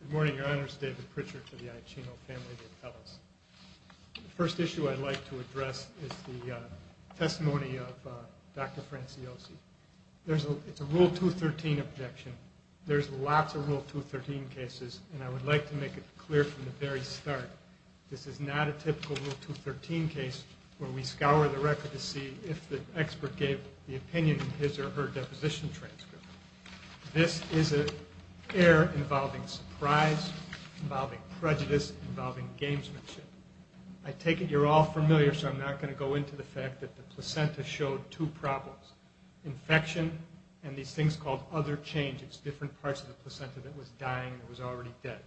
Good morning, your honors, David Pritchard to the Iaccino family of fellows. The first issue I'd like to address is the testimony of Dr. Franciosi. It's a Rule 213 objection. There's lots of Rule 213 cases, and I would like to make it clear from the very start, this is not a typical Rule 213 case where we scour the record to see if the expert gave the opinion in his or her deposition transcript. This is an error involving surprise, involving prejudice, involving gamesmanship. I take it you're all familiar, so I'm not going to go into the fact that the placenta showed two problems, infection and these things called other changes, different parts of the placenta that was dying and was already dead.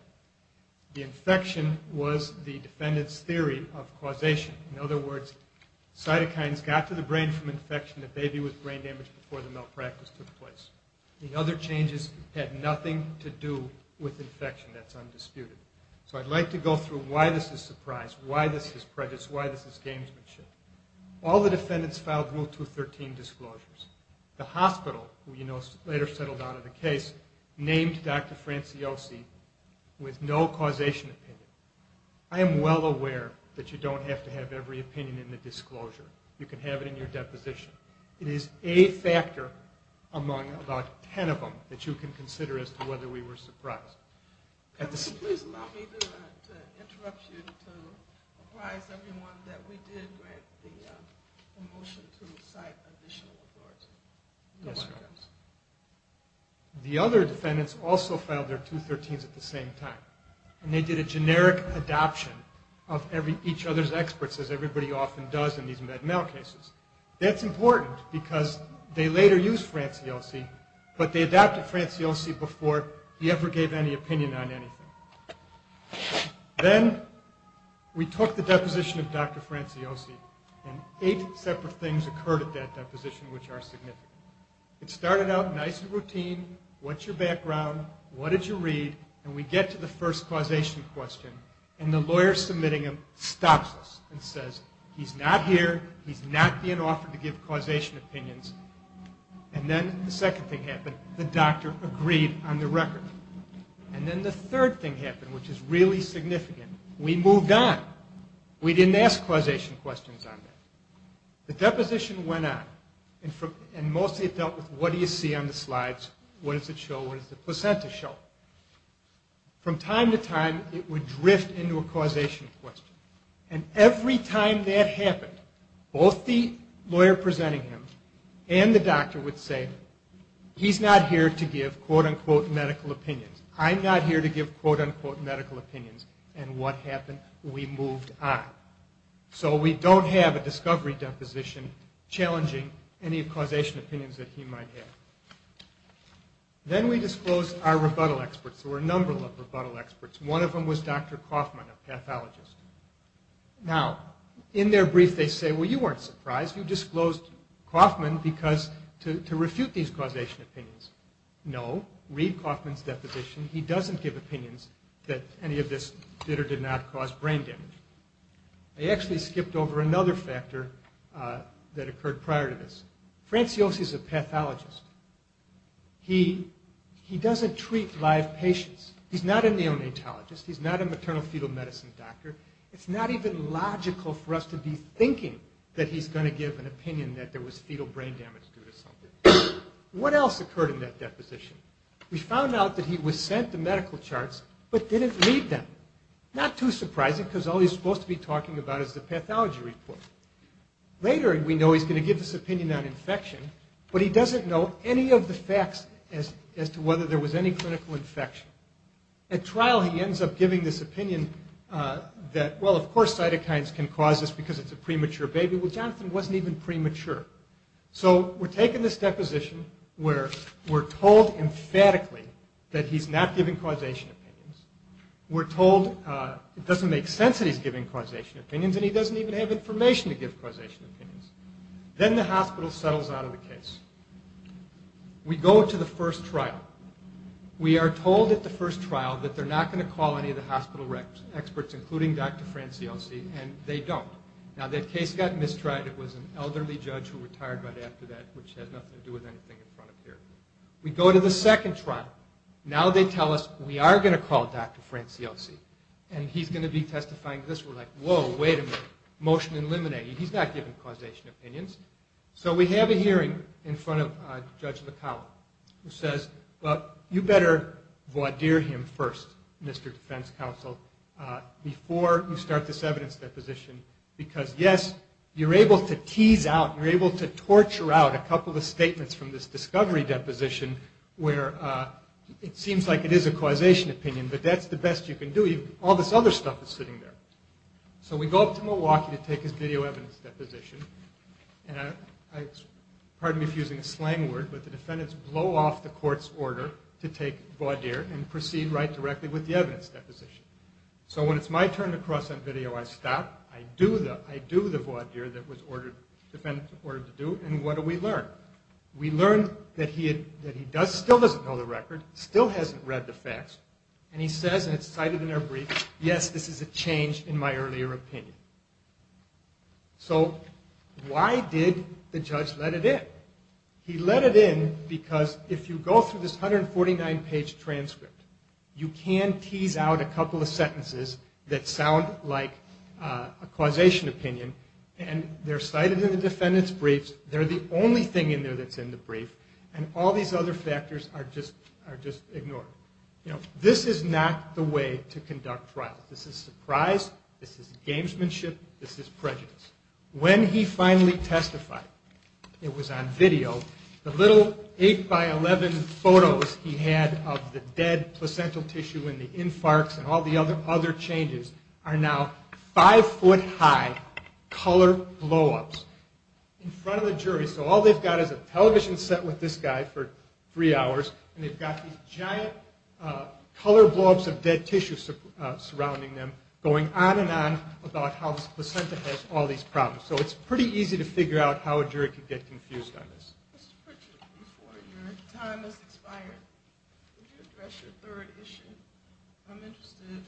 The infection was the defendant's theory of causation. In other words, cytokines got to the brain from infection, the baby was brain damaged before the malpractice took place. The other changes had nothing to do with infection. That's undisputed. So I'd like to go through why this is surprise, why this is prejudice, why this is gamesmanship. All the defendants filed Rule 213 disclosures. The hospital, who you know later settled on in the case, named Dr. Franciosi with no causation opinion. I am well aware that you don't have to have every opinion in the disclosure. You can have it in your deposition. It is a factor among about ten of them that you can consider as to whether we were surprised. Could you please allow me to interrupt you to apprise everyone that we did grant the motion to cite additional reports? Then we took the deposition of Dr. Franciosi and eight separate things occurred at that deposition which are significant. It started out nice and routine, what's your background, what did you read, and we get to the first causation question and the lawyer submitting him stops us and says he's not here, he's not being offered to give causation opinions. And then the second thing happened, the doctor agreed on the record. And then the third thing happened, which is really significant, we moved on. We didn't ask causation questions on that. The deposition went on and mostly it dealt with what do you see on the slides, what does it show, what does the placenta show. From time to time it would drift into a causation question. And every time that happened, both the lawyer presenting him and the doctor would say he's not here to give quote unquote medical opinions, I'm not here to give quote unquote medical opinions, and what happened, we moved on. So we don't have a discovery deposition challenging any causation opinions that he might have. Then we disclosed our rebuttal experts. There were a number of rebuttal experts. One of them was Dr. Kauffman, a pathologist. Now, in their brief they say well you weren't surprised, you disclosed Kauffman to refute these causation opinions. No, read Kauffman's deposition. He doesn't give opinions that any of this did or did not cause brain damage. I actually skipped over another factor that occurred prior to this. Franciose is a pathologist. He doesn't treat live patients. He's not a neonatologist, he's not a maternal fetal medicine doctor. It's not even logical for us to be thinking that he's going to give an opinion that there was fetal brain damage due to something. What else occurred in that deposition? We found out that he was sent the medical charts but didn't read them. Not too surprising because all he's supposed to be talking about is the pathology report. Later we know he's going to give this opinion on infection, but he doesn't know any of the facts as to whether there was any clinical infection. At trial he ends up giving this opinion that well of course cytokines can cause this because it's a premature baby. Well, Jonathan wasn't even premature. So we're taking this deposition where we're told emphatically that he's not giving causation opinions. We're told it doesn't make sense that he's giving causation opinions and he doesn't even have information to give causation opinions. Then the hospital settles out of the case. We go to the first trial. We are told at the first trial that they're not going to call any of the hospital experts, including Dr. Franciose, and they don't. Now that case got mistried. It was an elderly judge who retired right after that which had nothing to do with anything in front of here. We go to the second trial. Now they tell us we are going to call Dr. Franciose and he's going to be testifying to this. We're like whoa, wait a minute. Motion eliminated. He's not giving causation opinions. So we have a hearing in front of Judge McCollum who says well, you better voir dire him first, Mr. Defense Counsel, before you start this evidence deposition because yes, you're able to tease out, you're able to torture out a couple of statements from this discovery deposition where it seems like it is a causation opinion but that's the best you can do. All this other stuff is sitting there. So we go up to Milwaukee to take his video evidence deposition. Pardon me for using a slang word, but the defendants blow off the court's order to take voir dire and proceed right directly with the evidence deposition. So when it's my turn to cross that video, I stop. I do the voir dire that the defendants were ordered to do and what do we learn? We learn that he still doesn't know the record, still hasn't read the facts, and he says, and it's cited in their brief, yes, this is a change in my earlier opinion. So why did the judge let it in? He let it in because if you go through this 149-page transcript, you can tease out a couple of sentences that sound like a causation opinion and they're cited in the defendants' briefs, they're the only thing in there that's in the brief, and all these other factors are just ignored. This is not the way to conduct trials. This is surprise, this is gamesmanship, this is prejudice. When he finally testified, it was on video, the little 8-by-11 photos he had of the dead placental tissue and the infarcts and all the other changes are now five-foot-high color blow-ups in front of the jury. So all they've got is a television set with this guy for three hours and they've got these giant color blow-ups of dead tissue surrounding them going on and on about how this placenta has all these problems. So it's pretty easy to figure out how a jury could get confused on this. Mr. Pritchett, before your time has expired, could you address your third issue? I'm interested in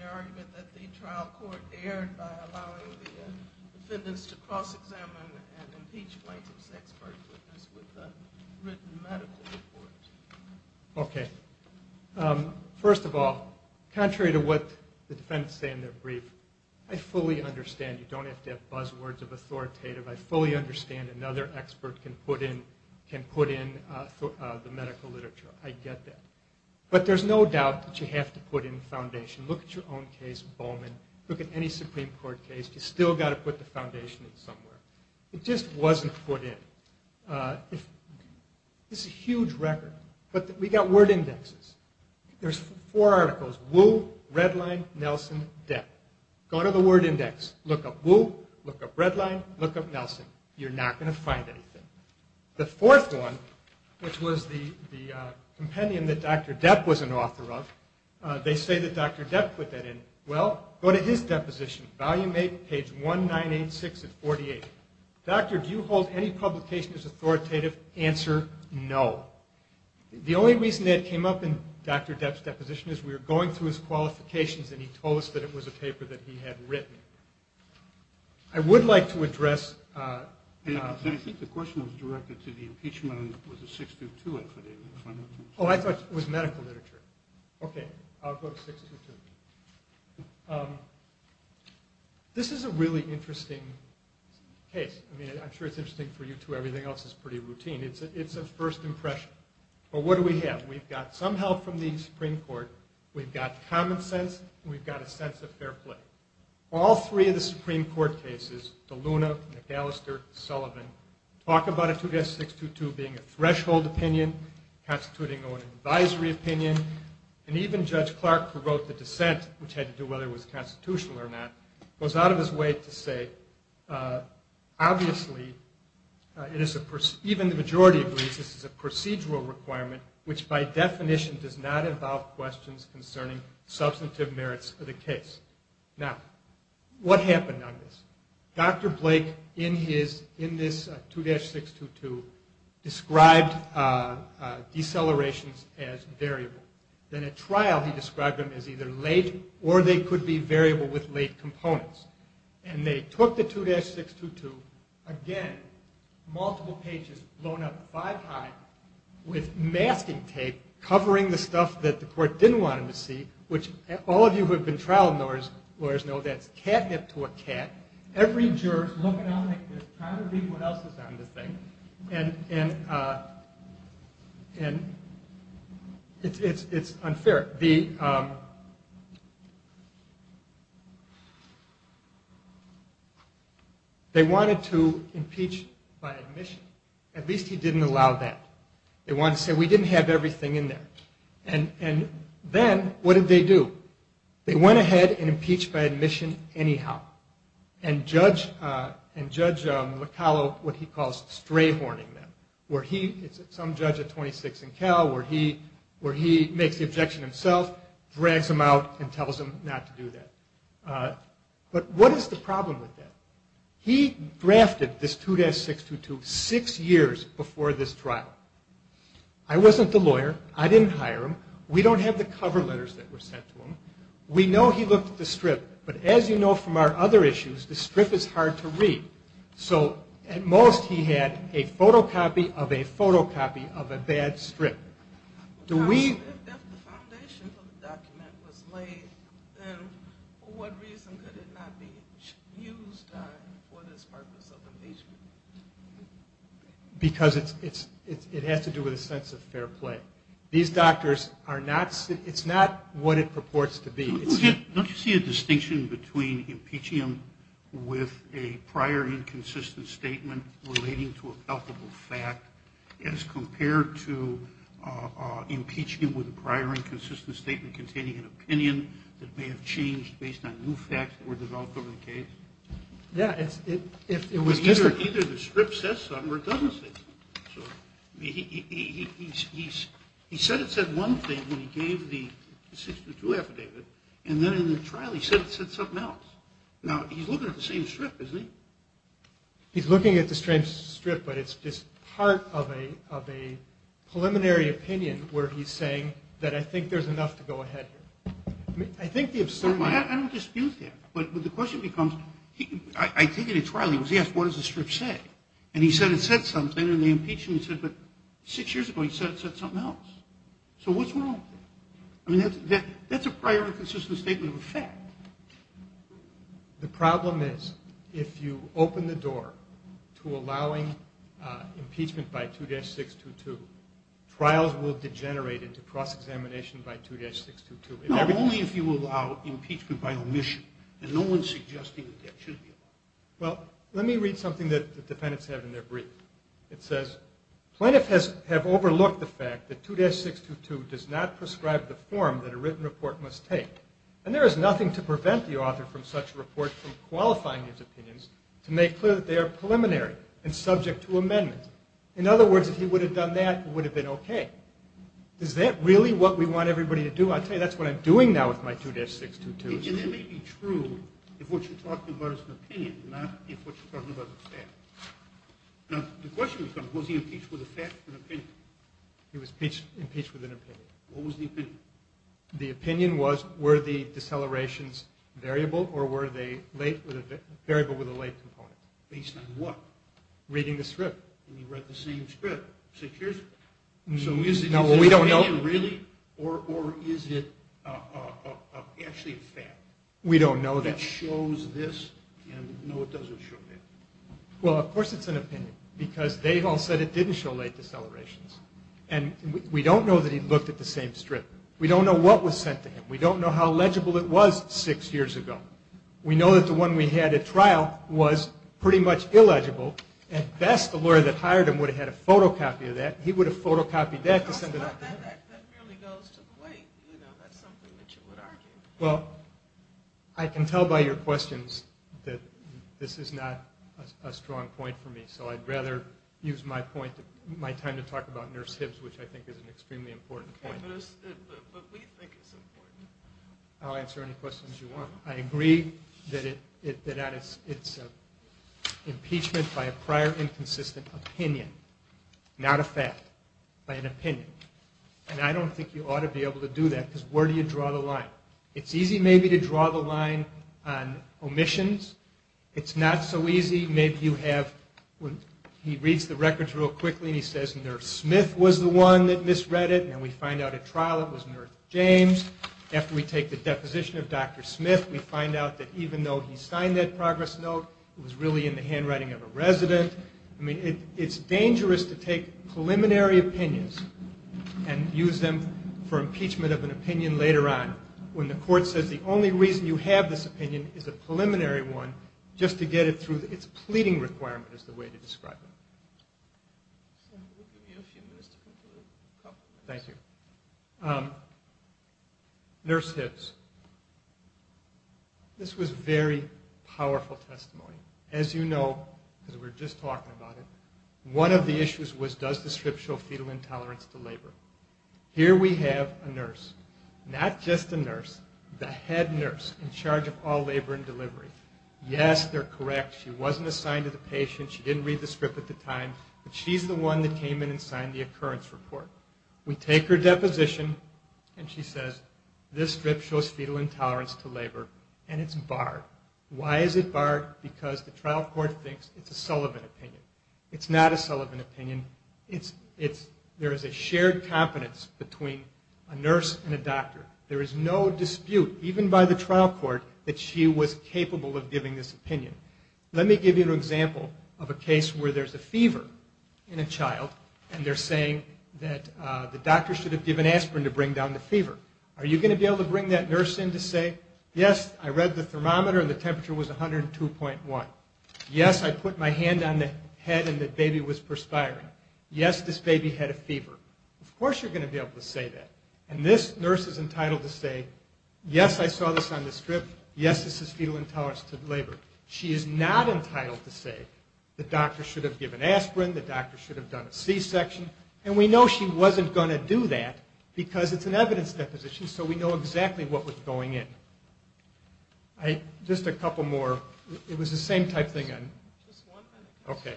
the argument that the trial court erred by allowing the defendants to cross-examine an impeached plaintiff's expert witness with a written medical report. Okay. First of all, contrary to what the defendants say in their brief, I fully understand, you don't have to have buzzwords of authoritative, I fully understand another expert can put in the medical literature, I get that. But there's no doubt that you have to put in the foundation. Look at your own case, Bowman, look at any Supreme Court case, you've still got to put the foundation in somewhere. It just wasn't put in. It's a huge record. But we've got word indexes. There's four articles, Wu, Redline, Nelson, Depp. Go to the word index, look up Wu, look up Redline, look up Nelson. You're not going to find anything. The fourth one, which was the compendium that Dr. Depp was an author of, they say that Dr. Depp put that in. Well, go to his deposition, volume 8, page 1986 at 48. Doctor, do you hold any publication as authoritative? Answer, no. The only reason that came up in Dr. Depp's deposition is we were going through his qualifications and he told us that it was a paper that he had written. I would like to address... I think the question was directed to the impeachment with a 6-2-2 affidavit. Oh, I thought it was medical literature. Okay, I'll go to 6-2-2. This is a really interesting case. I mean, I'm sure it's interesting for you too. Everything else is pretty routine. It's a first impression. But what do we have? We've got some help from the Supreme Court, we've got common sense, and we've got a sense of fair play. All three of the Supreme Court cases, De Luna, McAllister, Sullivan, talk about a 2-6-2-2 being a threshold opinion, a constituting or an advisory opinion. And even Judge Clark, who wrote the dissent, which had to do with whether it was constitutional or not, goes out of his way to say, obviously, even the majority agrees this is a procedural requirement, which by definition does not involve questions concerning substantive merits of the case. Now, what happened on this? Dr. Blake, in this 2-6-2-2, described decelerations as variable. Then at trial, he described them as either late, or they could be variable with late components. And they took the 2-6-2-2, again, multiple pages, blown up five high, with masking tape covering the stuff that the court didn't want them to see, which all of you who have been trial lawyers know that's catnip to a cat. Every juror's looking out like this, trying to read what else is on the thing, and it's unfair. They wanted to impeach by admission. At least he didn't allow that. They wanted to say, we didn't have everything in there. And then, what did they do? They went ahead and impeached by admission anyhow. And Judge Locallo, what he calls stray-horning them, where he, some judge at 26 and Cal, where he makes the objection himself, drags them out and tells them not to do that. But what is the problem with that? He drafted this 2-6-2-2 six years before this trial. I wasn't the lawyer. I didn't hire him. We don't have the cover letters that were sent to him. We know he looked at the strip, but as you know from our other issues, the strip is hard to read. So at most, he had a photocopy of a photocopy of a bad strip. If the foundation for the document was laid, then for what reason could it not be used for this purpose of impeachment? Because it has to do with a sense of fair play. These doctors are not, it's not what it purports to be. Don't you see a distinction between impeaching them with a prior inconsistent statement relating to a palpable fact as compared to impeaching them with a prior inconsistent statement containing an opinion that may have changed based on new facts that were developed over the case? Either the strip says something or it doesn't say something. He said it said one thing when he gave the 6-2-2 affidavit, and then in the trial he said it said something else. Now, he's looking at the same strip, isn't he? He's looking at the same strip, but it's just part of a preliminary opinion where he's saying that I think there's enough to go ahead here. I don't dispute that, but the question becomes, I take it in trial, he was asked what does the strip say? And he said it said something, and they impeached him and said, but six years ago he said it said something else. So what's wrong with that? I mean, that's a prior inconsistent statement of a fact. The problem is if you open the door to allowing impeachment by 2-6-2-2, trials will degenerate into cross-examination by 2-6-2-2. Only if you allow impeachment by omission, and no one's suggesting that that should be allowed. Well, let me read something that the defendants have in their brief. It says, Plaintiff has overlooked the fact that 2-6-2-2 does not prescribe the form that a written report must take, and there is nothing to prevent the author from such a report from qualifying his opinions to make clear that they are preliminary and subject to amendments. In other words, if he would have done that, it would have been okay. Is that really what we want everybody to do? I'll tell you, that's what I'm doing now with my 2-6-2-2. And that may be true if what you're talking about is an opinion, not if what you're talking about is a fact. Now, the question becomes, was he impeached with a fact or an opinion? He was impeached with an opinion. What was the opinion? The opinion was, were the decelerations variable, or were they variable with a late component? Based on what? Reading the script. And you read the same script. So is it an opinion, really, or is it actually a fact? We don't know that. That shows this, and no, it doesn't show that. Well, of course it's an opinion, because they all said it didn't show late decelerations. And we don't know that he looked at the same script. We don't know what was sent to him. We don't know how legible it was six years ago. We know that the one we had at trial was pretty much illegible. At best, the lawyer that hired him would have had a photocopy of that. He would have photocopied that to send it out there. But that really goes to the weight. You know, that's something that you would argue. Well, I can tell by your questions that this is not a strong point for me, so I'd rather use my time to talk about Nurse Hibbs, which I think is an extremely important point. But we think it's important. I'll answer any questions you want. I agree that it's impeachment by a prior inconsistent opinion, not a fact, by an opinion. And I don't think you ought to be able to do that, because where do you draw the line? It's easy maybe to draw the line on omissions. It's not so easy. He reads the records real quickly, and he says Nurse Smith was the one that misread it, and we find out at trial it was Nurse James. After we take the deposition of Dr. Smith, we find out that even though he signed that progress note, it was really in the handwriting of a resident. It's dangerous to take preliminary opinions and use them for impeachment of an opinion later on, when the court says the only reason you have this opinion is a preliminary one, just to get it through its pleading requirement is the way to describe it. We'll give you a few minutes to conclude. Thank you. Nurse Hibbs. This was very powerful testimony. As you know, because we were just talking about it, one of the issues was does the script show fetal intolerance to labor? Here we have a nurse, not just a nurse, the head nurse in charge of all labor and delivery, yes, they're correct, she wasn't assigned to the patient, she didn't read the script at the time, but she's the one that came in and signed the occurrence report. We take her deposition, and she says this script shows fetal intolerance to labor, and it's barred. Why is it barred? Because the trial court thinks it's a Sullivan opinion. It's not a Sullivan opinion. There is a shared competence between a nurse and a doctor. There is no dispute, even by the trial court, that she was capable of giving this opinion. Let me give you an example of a case where there's a fever in a child, and they're saying that the doctor should have given aspirin to bring down the fever. Are you going to be able to bring that nurse in to say, yes, I read the thermometer and the temperature was 102.1, yes, I put my hand on the head and the baby was perspiring, yes, this baby had a fever? Of course you're going to be able to say that. And this nurse is entitled to say, yes, I saw this on the script, yes, this is fetal intolerance to labor. She is not entitled to say the doctor should have given aspirin, the doctor should have done a C-section, and we know she wasn't going to do that because it's an evidence deposition, so we know exactly what was going in. Just a couple more. It was the same type thing. Okay.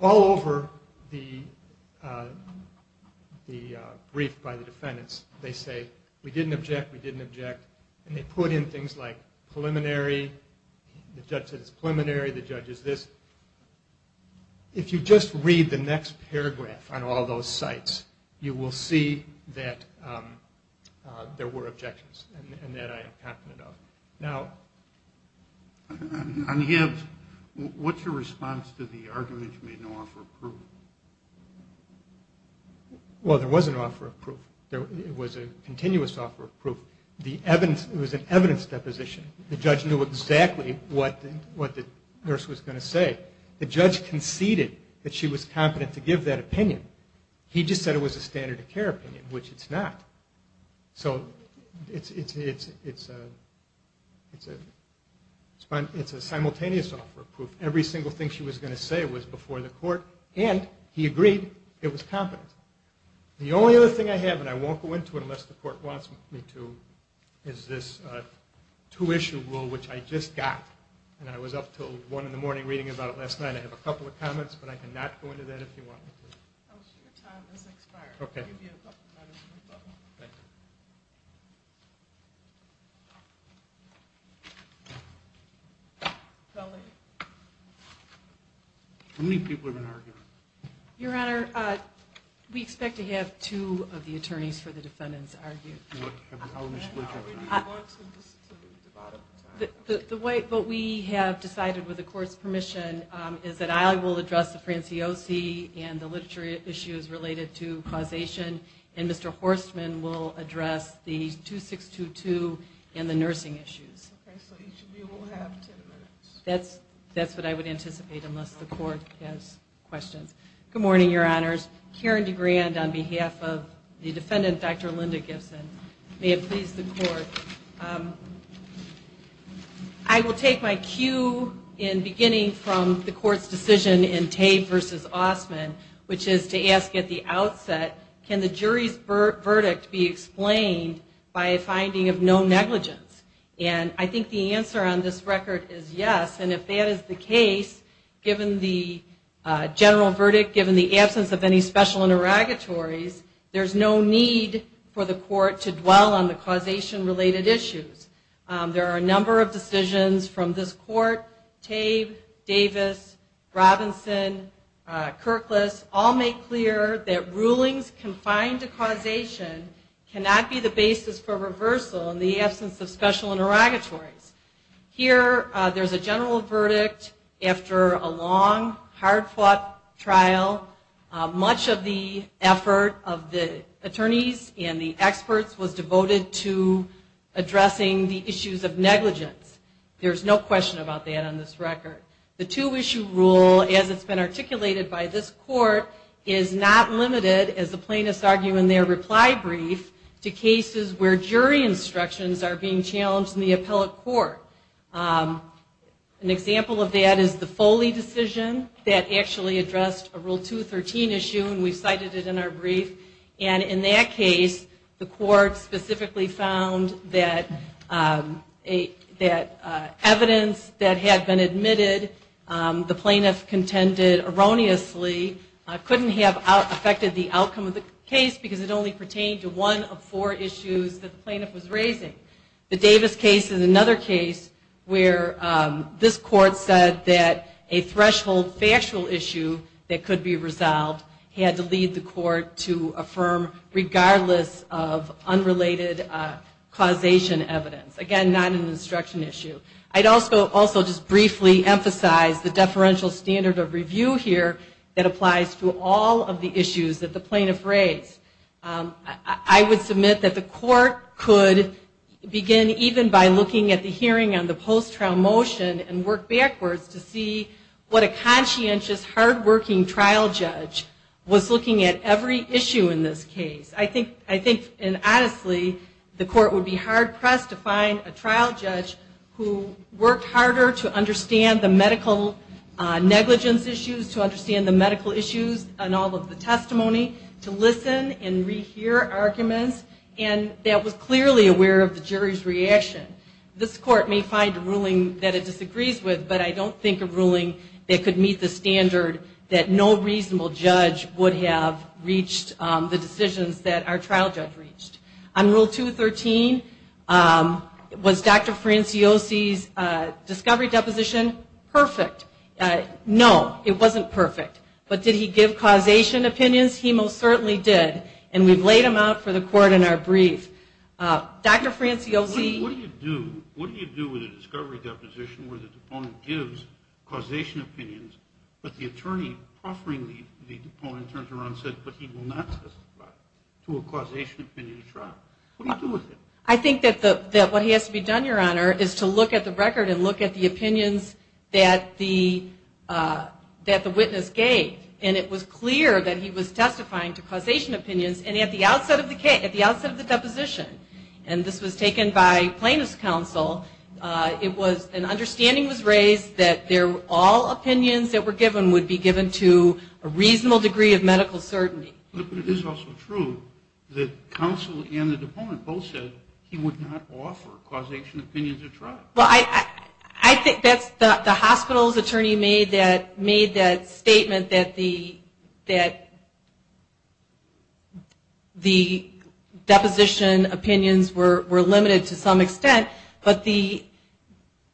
All over the brief by the defendants, they say, we didn't object, we didn't object, and they put in things like preliminary, the judge said it's preliminary, the judge is this. If you just read the next paragraph on all those sites, you will see that there were objections, and that I am confident of. Now. On Gibbs, what's your response to the argument you made in the offer of proof? Well, there was an offer of proof. It was a continuous offer of proof. It was an evidence deposition. The judge knew exactly what the nurse was going to say. The judge conceded that she was competent to give that opinion. He just said it was a standard of care opinion, which it's not. So it's a simultaneous offer of proof. Every single thing she was going to say was before the court, and he agreed it was competent. The only other thing I have, and I won't go into it unless the court wants me to, is this two-issue rule, which I just got, and I was up until one in the morning reading about it last night. I have a couple of comments, but I cannot go into that if you want me to. Your time has expired. How many people have been arguing? Your Honor, we expect to have two of the attorneys for the defendants argue. What we have decided, with the court's permission, is that I will address the Franciosi and the literature issues related to causation, and Mr. Horstman will address the 2622 and the nursing issues. Okay, so each of you will have ten minutes. That's what I would anticipate, unless the court has questions. Good morning, Your Honors. Karen DeGrand on behalf of the defendant, Dr. Linda Gibson. May it please the court. I will take my cue in beginning from the court's decision in Tabe v. Ossman, which is to ask at the outset, can the jury's verdict be explained by a finding of no negligence? And I think the answer on this record is yes, and if that is the case, given the general verdict, given the absence of any special interrogatories, there's no need for the court to dwell on the causation-related issues. There are a number of decisions from this court, Tabe, Davis, Robinson, Kirklis, all make clear that rulings confined to causation cannot be the basis for reversal in the absence of special interrogatories. Here, there's a general verdict after a long, hard-fought trial. Much of the effort of the attorneys and the experts was devoted to addressing the issues of negligence. There's no question about that on this record. The two-issue rule, as it's been articulated by this court, is not limited, as the plaintiffs argue in their reply brief, to cases where jury instructions are being challenged in the appellate court. An example of that is the Foley decision that actually addressed a Rule 213 issue, and we've cited it in our brief. And in that case, the court specifically found that evidence that had been admitted, the plaintiff contended erroneously, couldn't have affected the outcome of the case because it only pertained to one of four issues that the plaintiff was raising. The Davis case is another case where this court said that a threshold factual issue that could be resolved had to lead the court to affirm regardless of unrelated causation evidence. Again, not an instruction issue. I'd also just briefly emphasize the deferential standard of review here that applies to all of the issues that the plaintiff raised. I would submit that the court could begin even by looking at the hearing on the post-trial motion and work backwards to see what a conscientious, hard-working trial judge was looking at every issue in this case. I think, honestly, the court would be hard-pressed to find a trial judge who worked harder to understand the medical negligence issues, to understand the medical issues on all of the testimony, to listen and rehear arguments, and that was clearly aware of the jury's reaction. This court may find a ruling that it disagrees with, but I don't think a ruling that could meet the standard that no reasonable judge would have reached the decisions that our trial judge reached. On Rule 213, was Dr. Franciosi's discovery deposition perfect? No, it wasn't perfect. But did he give causation opinions? He most certainly did, and we've laid them out for the court in our brief. Dr. Franciosi... What do you do with a discovery deposition where the deponent gives causation opinions, but the attorney offering the deponent turns around and says, but he will not testify to a causation opinion trial? What do you do with it? I think that what has to be done, Your Honor, is to look at the record and look at the opinions that the witness gave, and it was clear that he was testifying to causation opinions, and at the outset of the deposition, and this was taken by plaintiff's counsel, an understanding was raised that all opinions that were given would be given to a reasonable degree of medical certainty. But it is also true that counsel and the deponent both said he would not offer causation opinions at trial. Well, I think that's the hospital's attorney made that statement that the deposition opinions were limited to some extent, but the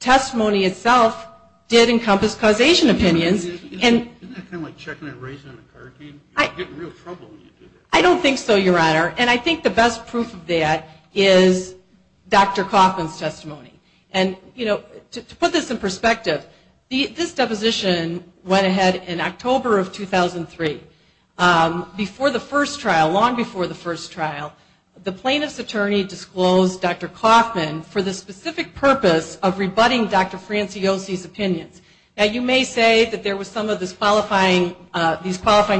testimony itself did encompass causation opinions. Isn't that kind of like checking a race on a card game? You get in real trouble when you do that. I don't think so, Your Honor, and I think the best proof of that is Dr. Coffman's testimony. To put this in perspective, this deposition went ahead in October of 2003. Long before the first trial, the plaintiff's attorney disclosed Dr. Coffman for the specific purpose of rebutting Dr. Franciosi's opinions. Now, you may say that there were some of these qualifying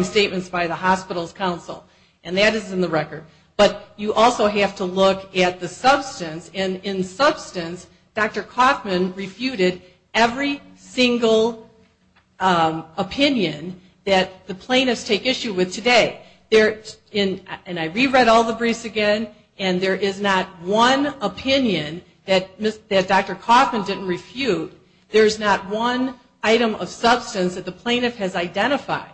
statements by the hospital's counsel, and that is in the record. But you also have to look at the substance, and in substance Dr. Coffman refuted every single opinion that the plaintiffs take issue with today. And I reread all the briefs again, and there is not one opinion that Dr. Coffman didn't refute. There's not one item of substance that the plaintiff has identified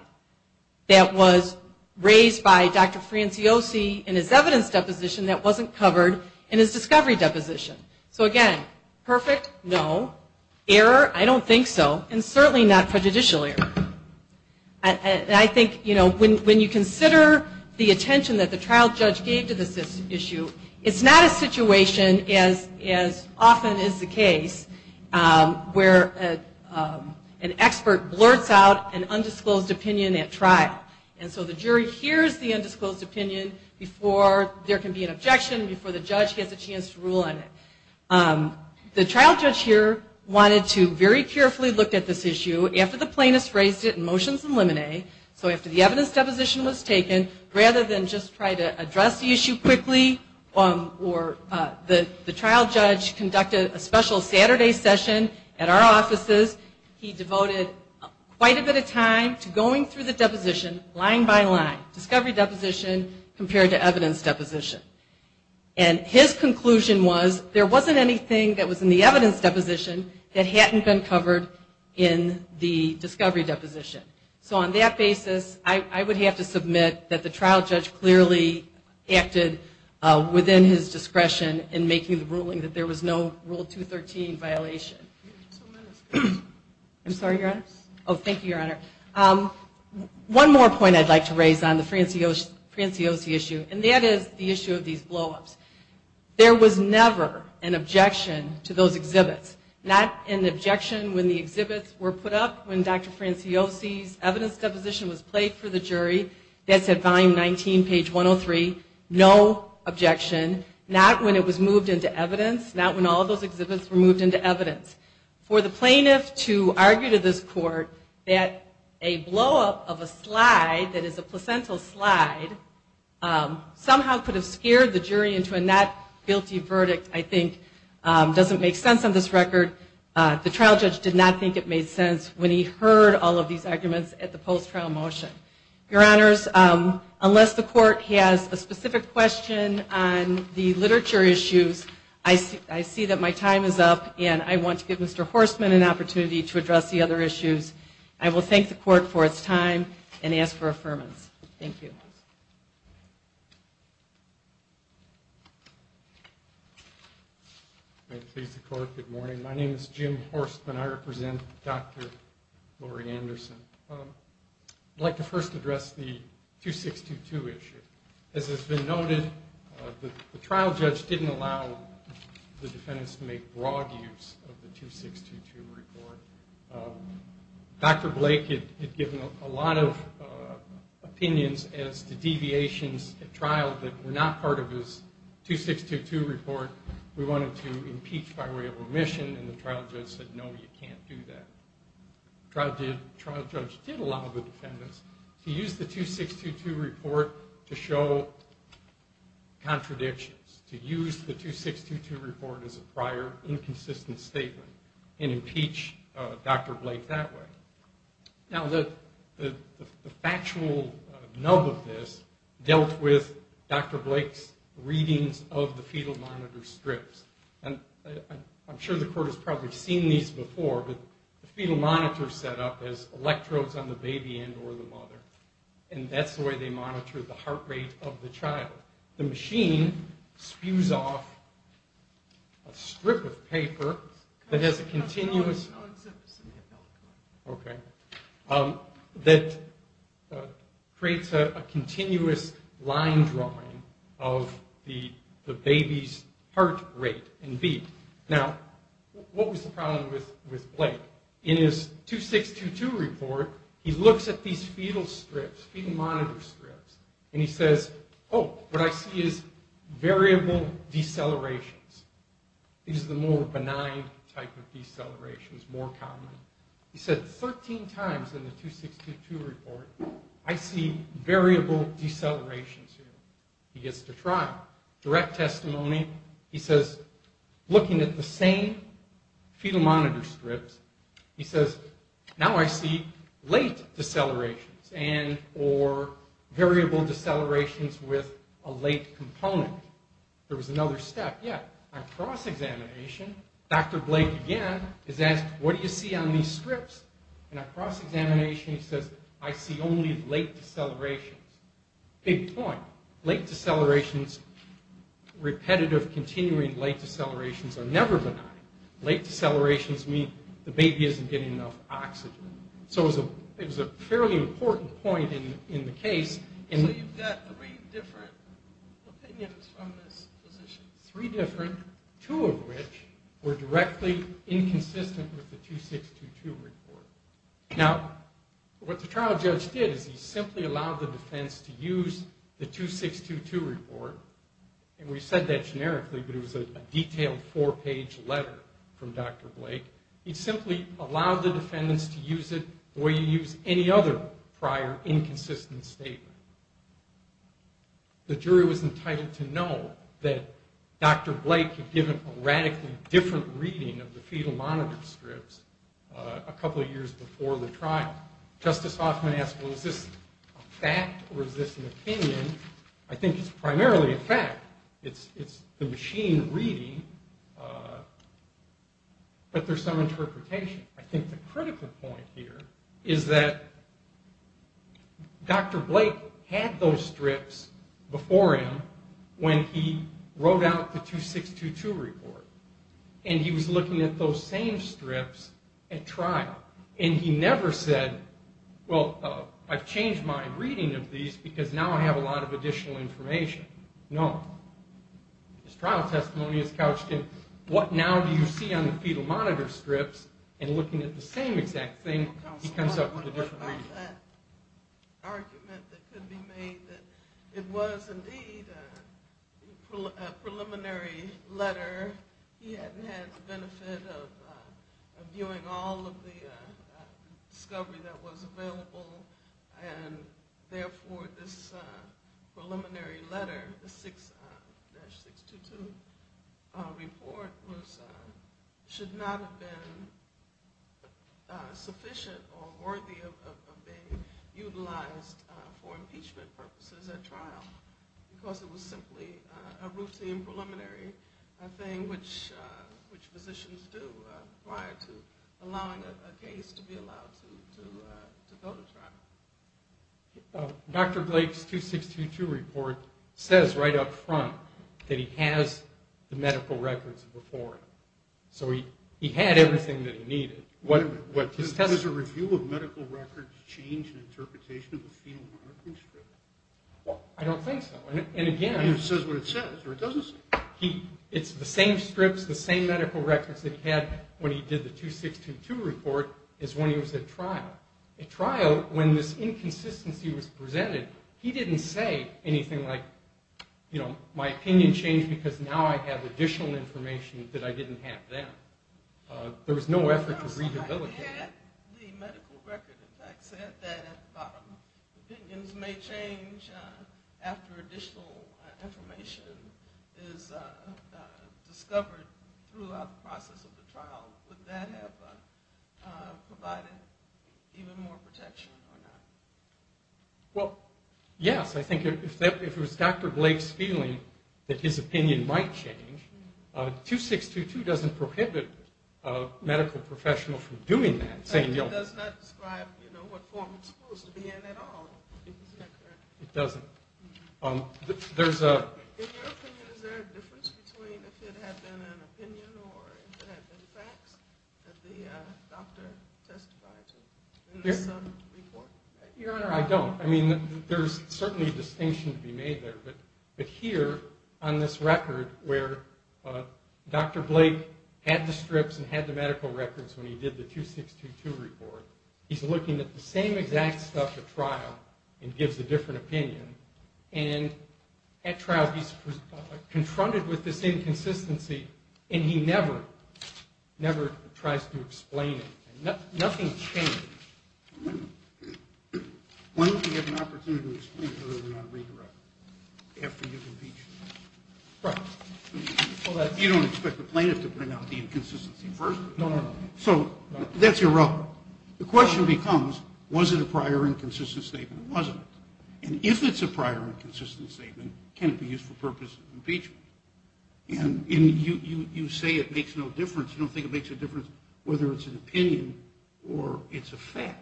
that was raised by Dr. Franciosi in his evidence deposition that wasn't covered in his discovery deposition. So again, perfect? No. Error? I don't think so. And certainly not prejudicial error. And I think, you know, when you consider the attention that the trial judge gave to this issue, it's not a situation as often is the case where an expert blurts out an undisclosed opinion at trial. And so the jury hears the undisclosed opinion before there can be an objection, before the judge gets a chance to rule on it. The trial judge here wanted to very carefully look at this issue after the plaintiffs raised it in motions and limine. So after the evidence deposition was taken, rather than just try to address the issue quickly, or the trial judge conducted a special Saturday session at our offices, he devoted quite a bit of time to going through the deposition line by line, discovery deposition compared to evidence deposition. And his conclusion was there wasn't anything that was in the evidence deposition that hadn't been covered in the discovery deposition. So on that basis, I would have to submit that the trial judge clearly acted within his discretion in making the ruling that there was no Rule 213 violation. I'm sorry, Your Honor? Oh, thank you, Your Honor. One more point I'd like to raise on the Franciosi issue, and that is the issue of these blowups. There was never an objection to those exhibits. Not an objection when the exhibits were put up, when Dr. Franciosi's evidence deposition was played for the jury. That's at volume 19, page 103. No objection, not when it was moved into evidence, not when all of those exhibits were moved into evidence. For the plaintiff to argue to this court that a blowup of a slide that is a placental slide somehow could have scared the jury into a not guilty verdict, I think, doesn't make sense on this record. The trial judge did not think it made sense when he heard all of these arguments at the post-trial motion. Your Honors, unless the Court has a specific question on the literature issues, I see that my time is up, and I want to give Mr. Horstman an opportunity to address the other issues. I will thank the Court for its time and ask for affirmance. Thank you. May it please the Court, good morning. My name is Jim Horstman. I represent Dr. Laurie Anderson. I'd like to first address the 2622 issue. As has been noted, the trial judge didn't allow the defendants to make broad use of the 2622 report. Dr. Blake had given a lot of opinions as to deviations at trial that were not part of his 2622 report. We wanted to impeach by way of remission, and the trial judge said, no, you can't do that. The trial judge did allow the defendants to use the 2622 report to show contradictions, to use the 2622 report as a prior inconsistent statement and impeach Dr. Blake that way. Now, the factual nub of this dealt with Dr. Blake's readings of the fetal monitor strips. I'm sure the Court has probably seen these before, but the fetal monitor is set up as electrodes on the baby end or the mother, and that's the way they monitor the heart rate of the child. The machine spews off a strip of paper that has a continuous... Okay. That creates a continuous line drawing of the baby's heart rate and beat. Now, what was the problem with Blake? In his 2622 report, he looks at these fetal strips, fetal monitor strips, and he says, oh, what I see is variable decelerations. These are the more benign type of decelerations, more common. He said 13 times in the 2622 report, I see variable decelerations here. He gets to trial. Direct testimony, he says, looking at the same fetal monitor strips, he says, now I see late decelerations and or variable decelerations with a late component. There was another step. Yeah, on cross-examination, Dr. Blake again is asked, what do you see on these strips? And on cross-examination, he says, I see only late decelerations. Big point. Late decelerations, repetitive, continuing late decelerations are never benign. Late decelerations mean the baby isn't getting enough oxygen. So it was a fairly important point in the case. So you've got three different opinions from this physician. Three different, two of which were directly inconsistent with the 2622 report. Now, what the trial judge did is he simply allowed the defense to use the 2622 report. And we said that generically, but it was a detailed four-page letter from Dr. Blake. He simply allowed the defendants to use it the way you use any other prior inconsistent statement. The jury was entitled to know that Dr. Blake had given a radically different reading of the fetal monitor strips a couple of years before the trial. Justice Hoffman asked, well, is this a fact or is this an opinion? I think it's primarily a fact. It's the machine reading, but there's some interpretation. I think the critical point here is that Dr. Blake had those strips before him when he wrote out the 2622 report. And he was looking at those same strips at trial. And he never said, well, I've changed my reading of these because now I have a lot of additional information. No. His trial testimony is couched in what now do you see on the fetal monitor strips and looking at the same exact thing, he comes up with a different reading. I think that argument that could be made that it was indeed a preliminary letter, he hadn't had the benefit of viewing all of the discovery that was available and therefore this preliminary letter, the 6-622 report should not have been sufficient or worthy of being utilized for impeachment purposes at trial because it was simply a routine preliminary thing which physicians do prior to allowing a case to be allowed to go to trial. Dr. Blake's 2622 report says right up front that he has the medical records before him. So he had everything that he needed. Wait a minute. Does a review of medical records change the interpretation of the fetal monitor strip? I don't think so. And again, it's the same strips, the same medical records that he had when he did the 2622 report is when he was at trial. At trial, when this inconsistency was presented, he didn't say anything like, you know, my opinion changed because now I have additional information that I didn't have then. There was no effort to rehabilitate. Had the medical record, in fact, said that opinions may change after additional information is discovered throughout the process of the trial, would that have provided even more protection or not? Well, yes. I think if it was Dr. Blake's feeling that his opinion might change, 2622 doesn't prohibit a medical professional from doing that. It does not describe what form it's supposed to be in at all. In your opinion, is there a difference between if it had been an opinion or if it had been facts that the doctor testified to in this report? Your Honor, I don't. I mean, there's certainly a distinction to be made there, but here on this record where Dr. Blake had the strips and had the medical records when he did the 2622 report, he's looking at the same exact stuff at trial and gives a different opinion and at trial he's confronted with this inconsistency and he never tries to explain it. Nothing's changed. Why don't we get an opportunity to explain it rather than redirect it after you've impeached him? Right. Well, you don't expect the plaintiff to bring out the inconsistency first? No, no, no. So, that's your rub. The question becomes, was it a prior inconsistent statement? Was it? And if it's a prior inconsistent statement, can it be used for purpose of impeachment? And you say it makes no difference. You don't think it makes a difference whether it's an opinion or it's a fact.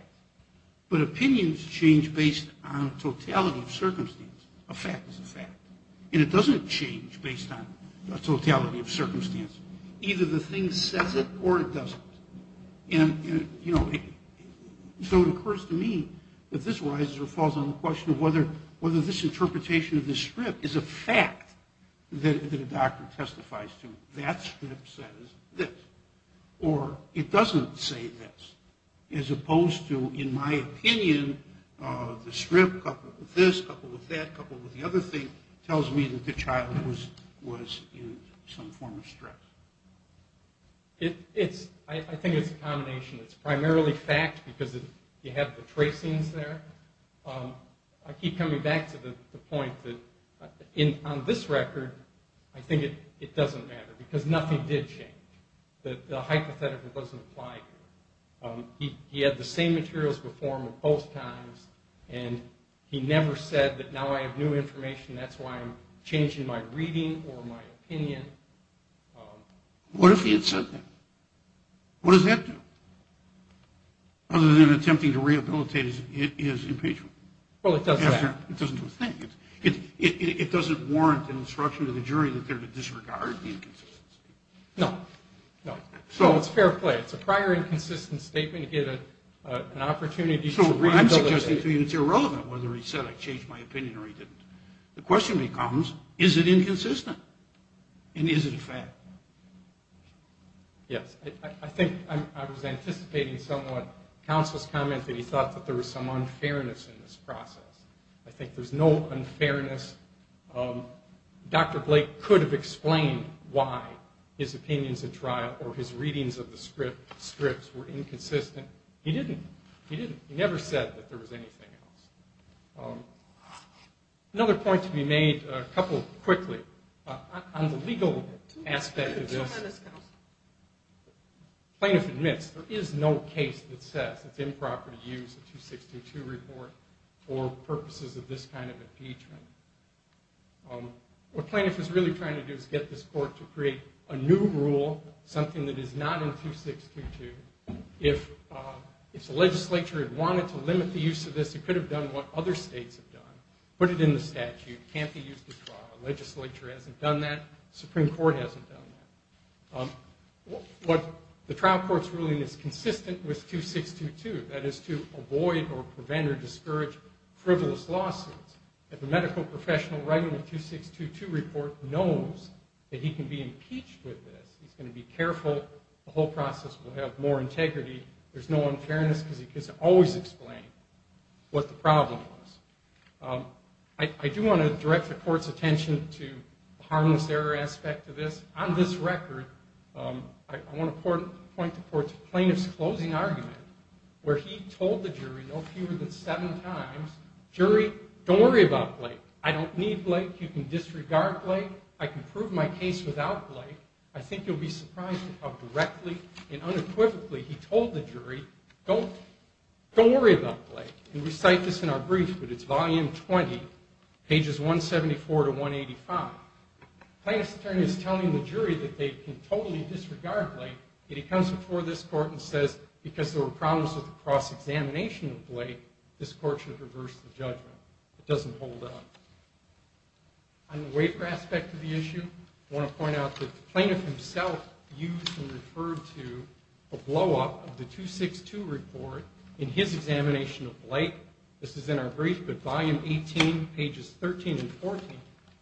But opinions change based on totality of circumstance. A fact is a fact. And it doesn't change based on totality of circumstance. Either the thing says it or it doesn't. So it occurs to me that this arises or falls on the question of whether this interpretation of this strip is a fact that a doctor testifies to. That strip says this. Or it doesn't say this. As opposed to, in my opinion, the strip coupled with this, coupled with that, coupled with the other thing tells me that the child was in some form of stress. I think it's a combination. It's primarily fact because you have the tracings there. I keep coming back to the point that on this record, I think it doesn't matter because nothing did change. The hypothetical doesn't apply here. He had the same materials before him at both times and he never said that now I have new information, that's why I'm changing my reading or my opinion. What if he had said that? What does that do? Other than attempting to rehabilitate his impeachment. It doesn't do a thing. It doesn't warrant an obstruction to the jury that they're to disregard the inconsistency. No, it's fair play. It's a prior inconsistent statement to get an opportunity to rehabilitate. So I'm suggesting to you it's irrelevant whether he said I changed my opinion or he didn't. The question becomes, is it inconsistent? And is it a fact? Yes, I think I was anticipating somewhat counsel's comment that he thought that there was some unfairness in this process. I think there's no unfairness. Dr. Blake could have explained why his opinions at trial or his readings of the scripts were inconsistent. He didn't. He never said that there was anything else. Another point to be made, a couple quickly. On the legal aspect of this, plaintiff admits there is no case that says it's improper to use a 2622 report for purposes of this kind of impeachment. What plaintiff is really trying to do is get this court to create a new rule, something that is not in 2622. If the legislature had wanted to limit the use of this, it could have done what other states have done. Put it in the statute. Can't be used at trial. Legislature hasn't done that. Supreme Court hasn't done that. The trial court's ruling is consistent with 2622. That is to avoid or prevent or discourage frivolous lawsuits. If a medical professional writing a 2622 report knows that he can be impeached with this, he's going to be careful. The whole process will have more integrity. There's no unfairness because he can always explain what the problem was. I do want to direct the court's attention to the harmless error aspect of this. On this record, I want to point the court to plaintiff's closing argument where he told the jury no fewer than seven times, don't worry about Blake. I don't need Blake. You can disregard Blake. I can prove my case without Blake. I think you'll be surprised how directly and unequivocally he told the jury, don't worry about Blake. We cite this in our brief, but it's volume 20, pages 174 to 185. Plaintiff's attorney is telling the jury that they can totally disregard Blake, yet he comes before this court and says because there were problems with the cross-examination of Blake, this court should reverse the judgment. It doesn't hold up. On the waiver aspect of the issue, I want to point out that the plaintiff himself used and referred to a blow-up of the cross-examination of Blake. This is in our brief, but volume 18, pages 13 and 14, the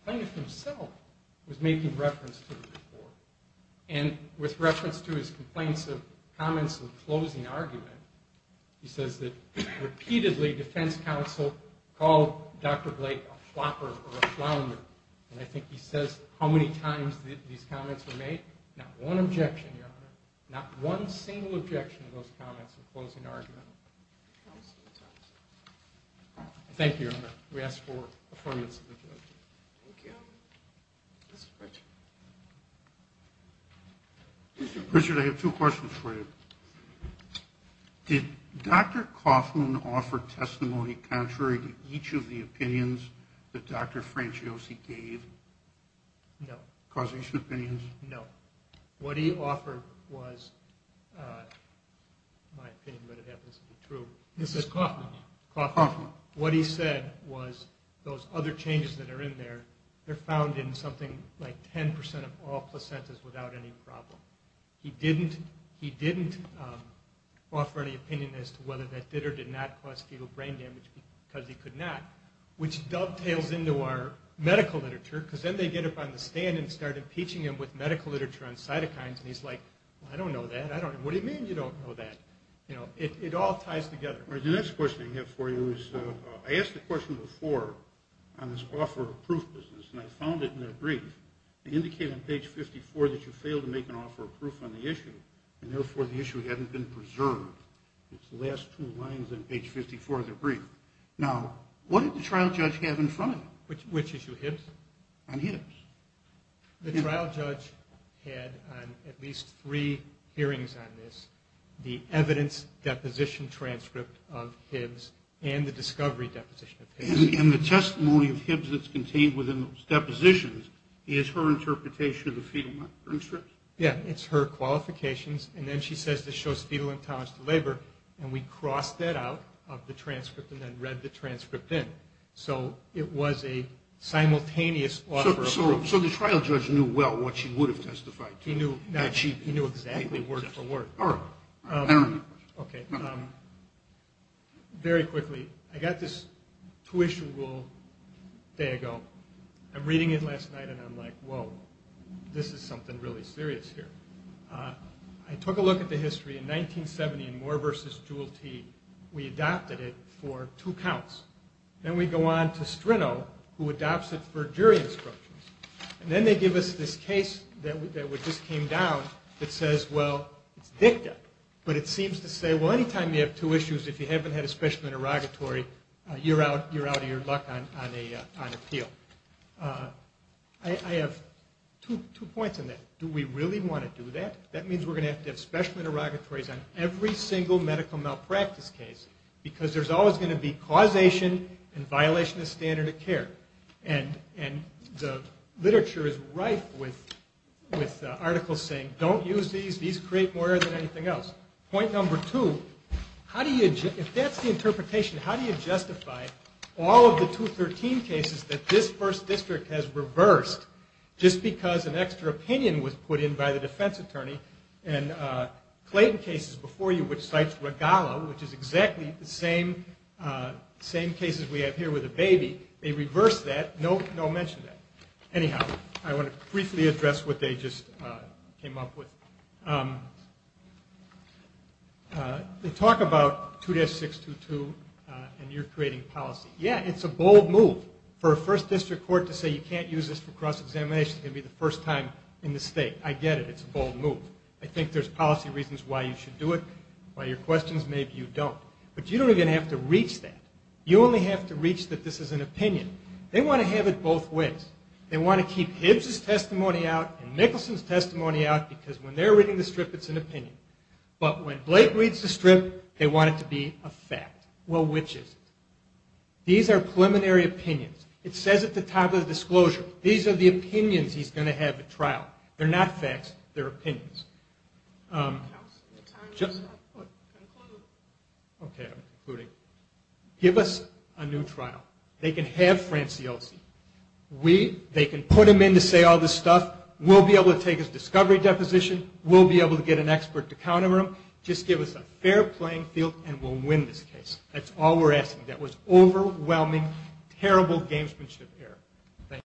plaintiff himself was making reference to the report. And with reference to his complaints of comments of closing argument, he says that repeatedly defense counsel called Dr. Blake a flopper or a flounder. And I think he says how many times these comments were made. Not one objection, Your Honor. Not one single objection to those comments of closing argument. Thank you, Your Honor. We ask for affordance of the judgment. Thank you. Mr. Pritchard. Mr. Pritchard, I have two questions for you. Did Dr. Kaufman offer testimony contrary to each of the opinions that Dr. Franciosi gave? No. Causation opinions? No. What he offered was, in my opinion, but it happens to be true, this is Kaufman, what he said was those other changes that are in there, they're found in something like 10% of all placentas without any problem. He didn't offer any opinion as to whether that did or did not cause fetal brain damage, because he could not. Which dovetails into our medical literature, because then they get up on the stand and start impeaching him with medical literature on cytokines, and he's like, I don't know that. What do you mean you don't know that? It all ties together. The next question I have for you is, I asked a question before on this offer of proof business, and I found it in that brief. It indicated on page 54 that you failed to make an offer of proof on the issue, and therefore the issue hadn't been preserved. It's the last two lines in page 54 of the brief. Now, what did the trial judge have in front of him? Which issue? Hibbs? On Hibbs. The trial judge had on at least three hearings on this the evidence deposition transcript of Hibbs and the discovery deposition of Hibbs. And the testimony of Hibbs that's contained within those depositions is her interpretation of the fetal brain strips? Yeah, it's her qualifications, and then she says this shows fetal intolerance to labor, and we crossed that out of the transcript and then read the transcript in. So it was a simultaneous offer of proof. So the trial judge knew well what she would have testified to? He knew exactly word for word. Very quickly, I got this tuition rule a day ago. I'm reading it last night and I'm like, whoa, this is something really serious here. I took a look at the history. In 1970 in Moore v. Jewelty, we adopted it for two counts. Then we go on to Strinno who adopts it for jury instructions. And then they give us this case that just came down that says, well, it's dicta. But it seems to say, well, any time you have two issues, if you haven't had a special interrogatory, you're out of your luck on appeal. I have two points on that. Do we really want to do that? That means we're going to have to have special interrogatories on every single medical malpractice case because there's always going to be causation and violation of standard of care. And the literature is rife with articles saying, don't use these. These create more error than anything else. Point number two, if that's the interpretation, how do you justify all of the 213 cases that this first district has reversed just because an extra opinion was put in by the defense attorney and Clayton cases before you, which cites Regala, which is exactly the same cases we have here with the baby. They reversed that. No mention of that. Anyhow, I want to briefly address what they just came up with. They talk about 2-622 and you're creating policy. Yeah, it's a bold move for a first district court to say you can't use this for cross-examination. It's going to be the first time in the state. I get it. It's a bold move. I think there's policy reasons why you should do it. By your questions, maybe you don't. But you don't even have to reach that. You only have to reach that this is an opinion. They want to have it both ways. They want to keep Hibbs' testimony out and Nicholson's testimony out because when they're reading the strip, it's an opinion. But when Blake reads the strip, they want it to be a fact. Well, which is it? These are preliminary opinions. It says at the top of the disclosure. These are the opinions he's going to have at trial. They're not facts. They're opinions. Okay, I'm concluding. Give us a new trial. They can have Franciosi. They can put him in to say all this stuff. We'll be able to take his discovery deposition. We'll be able to get an expert to counter him. Just give us a fair playing field and we'll win this case. That's all we're asking. That was overwhelming, terrible gamesmanship error.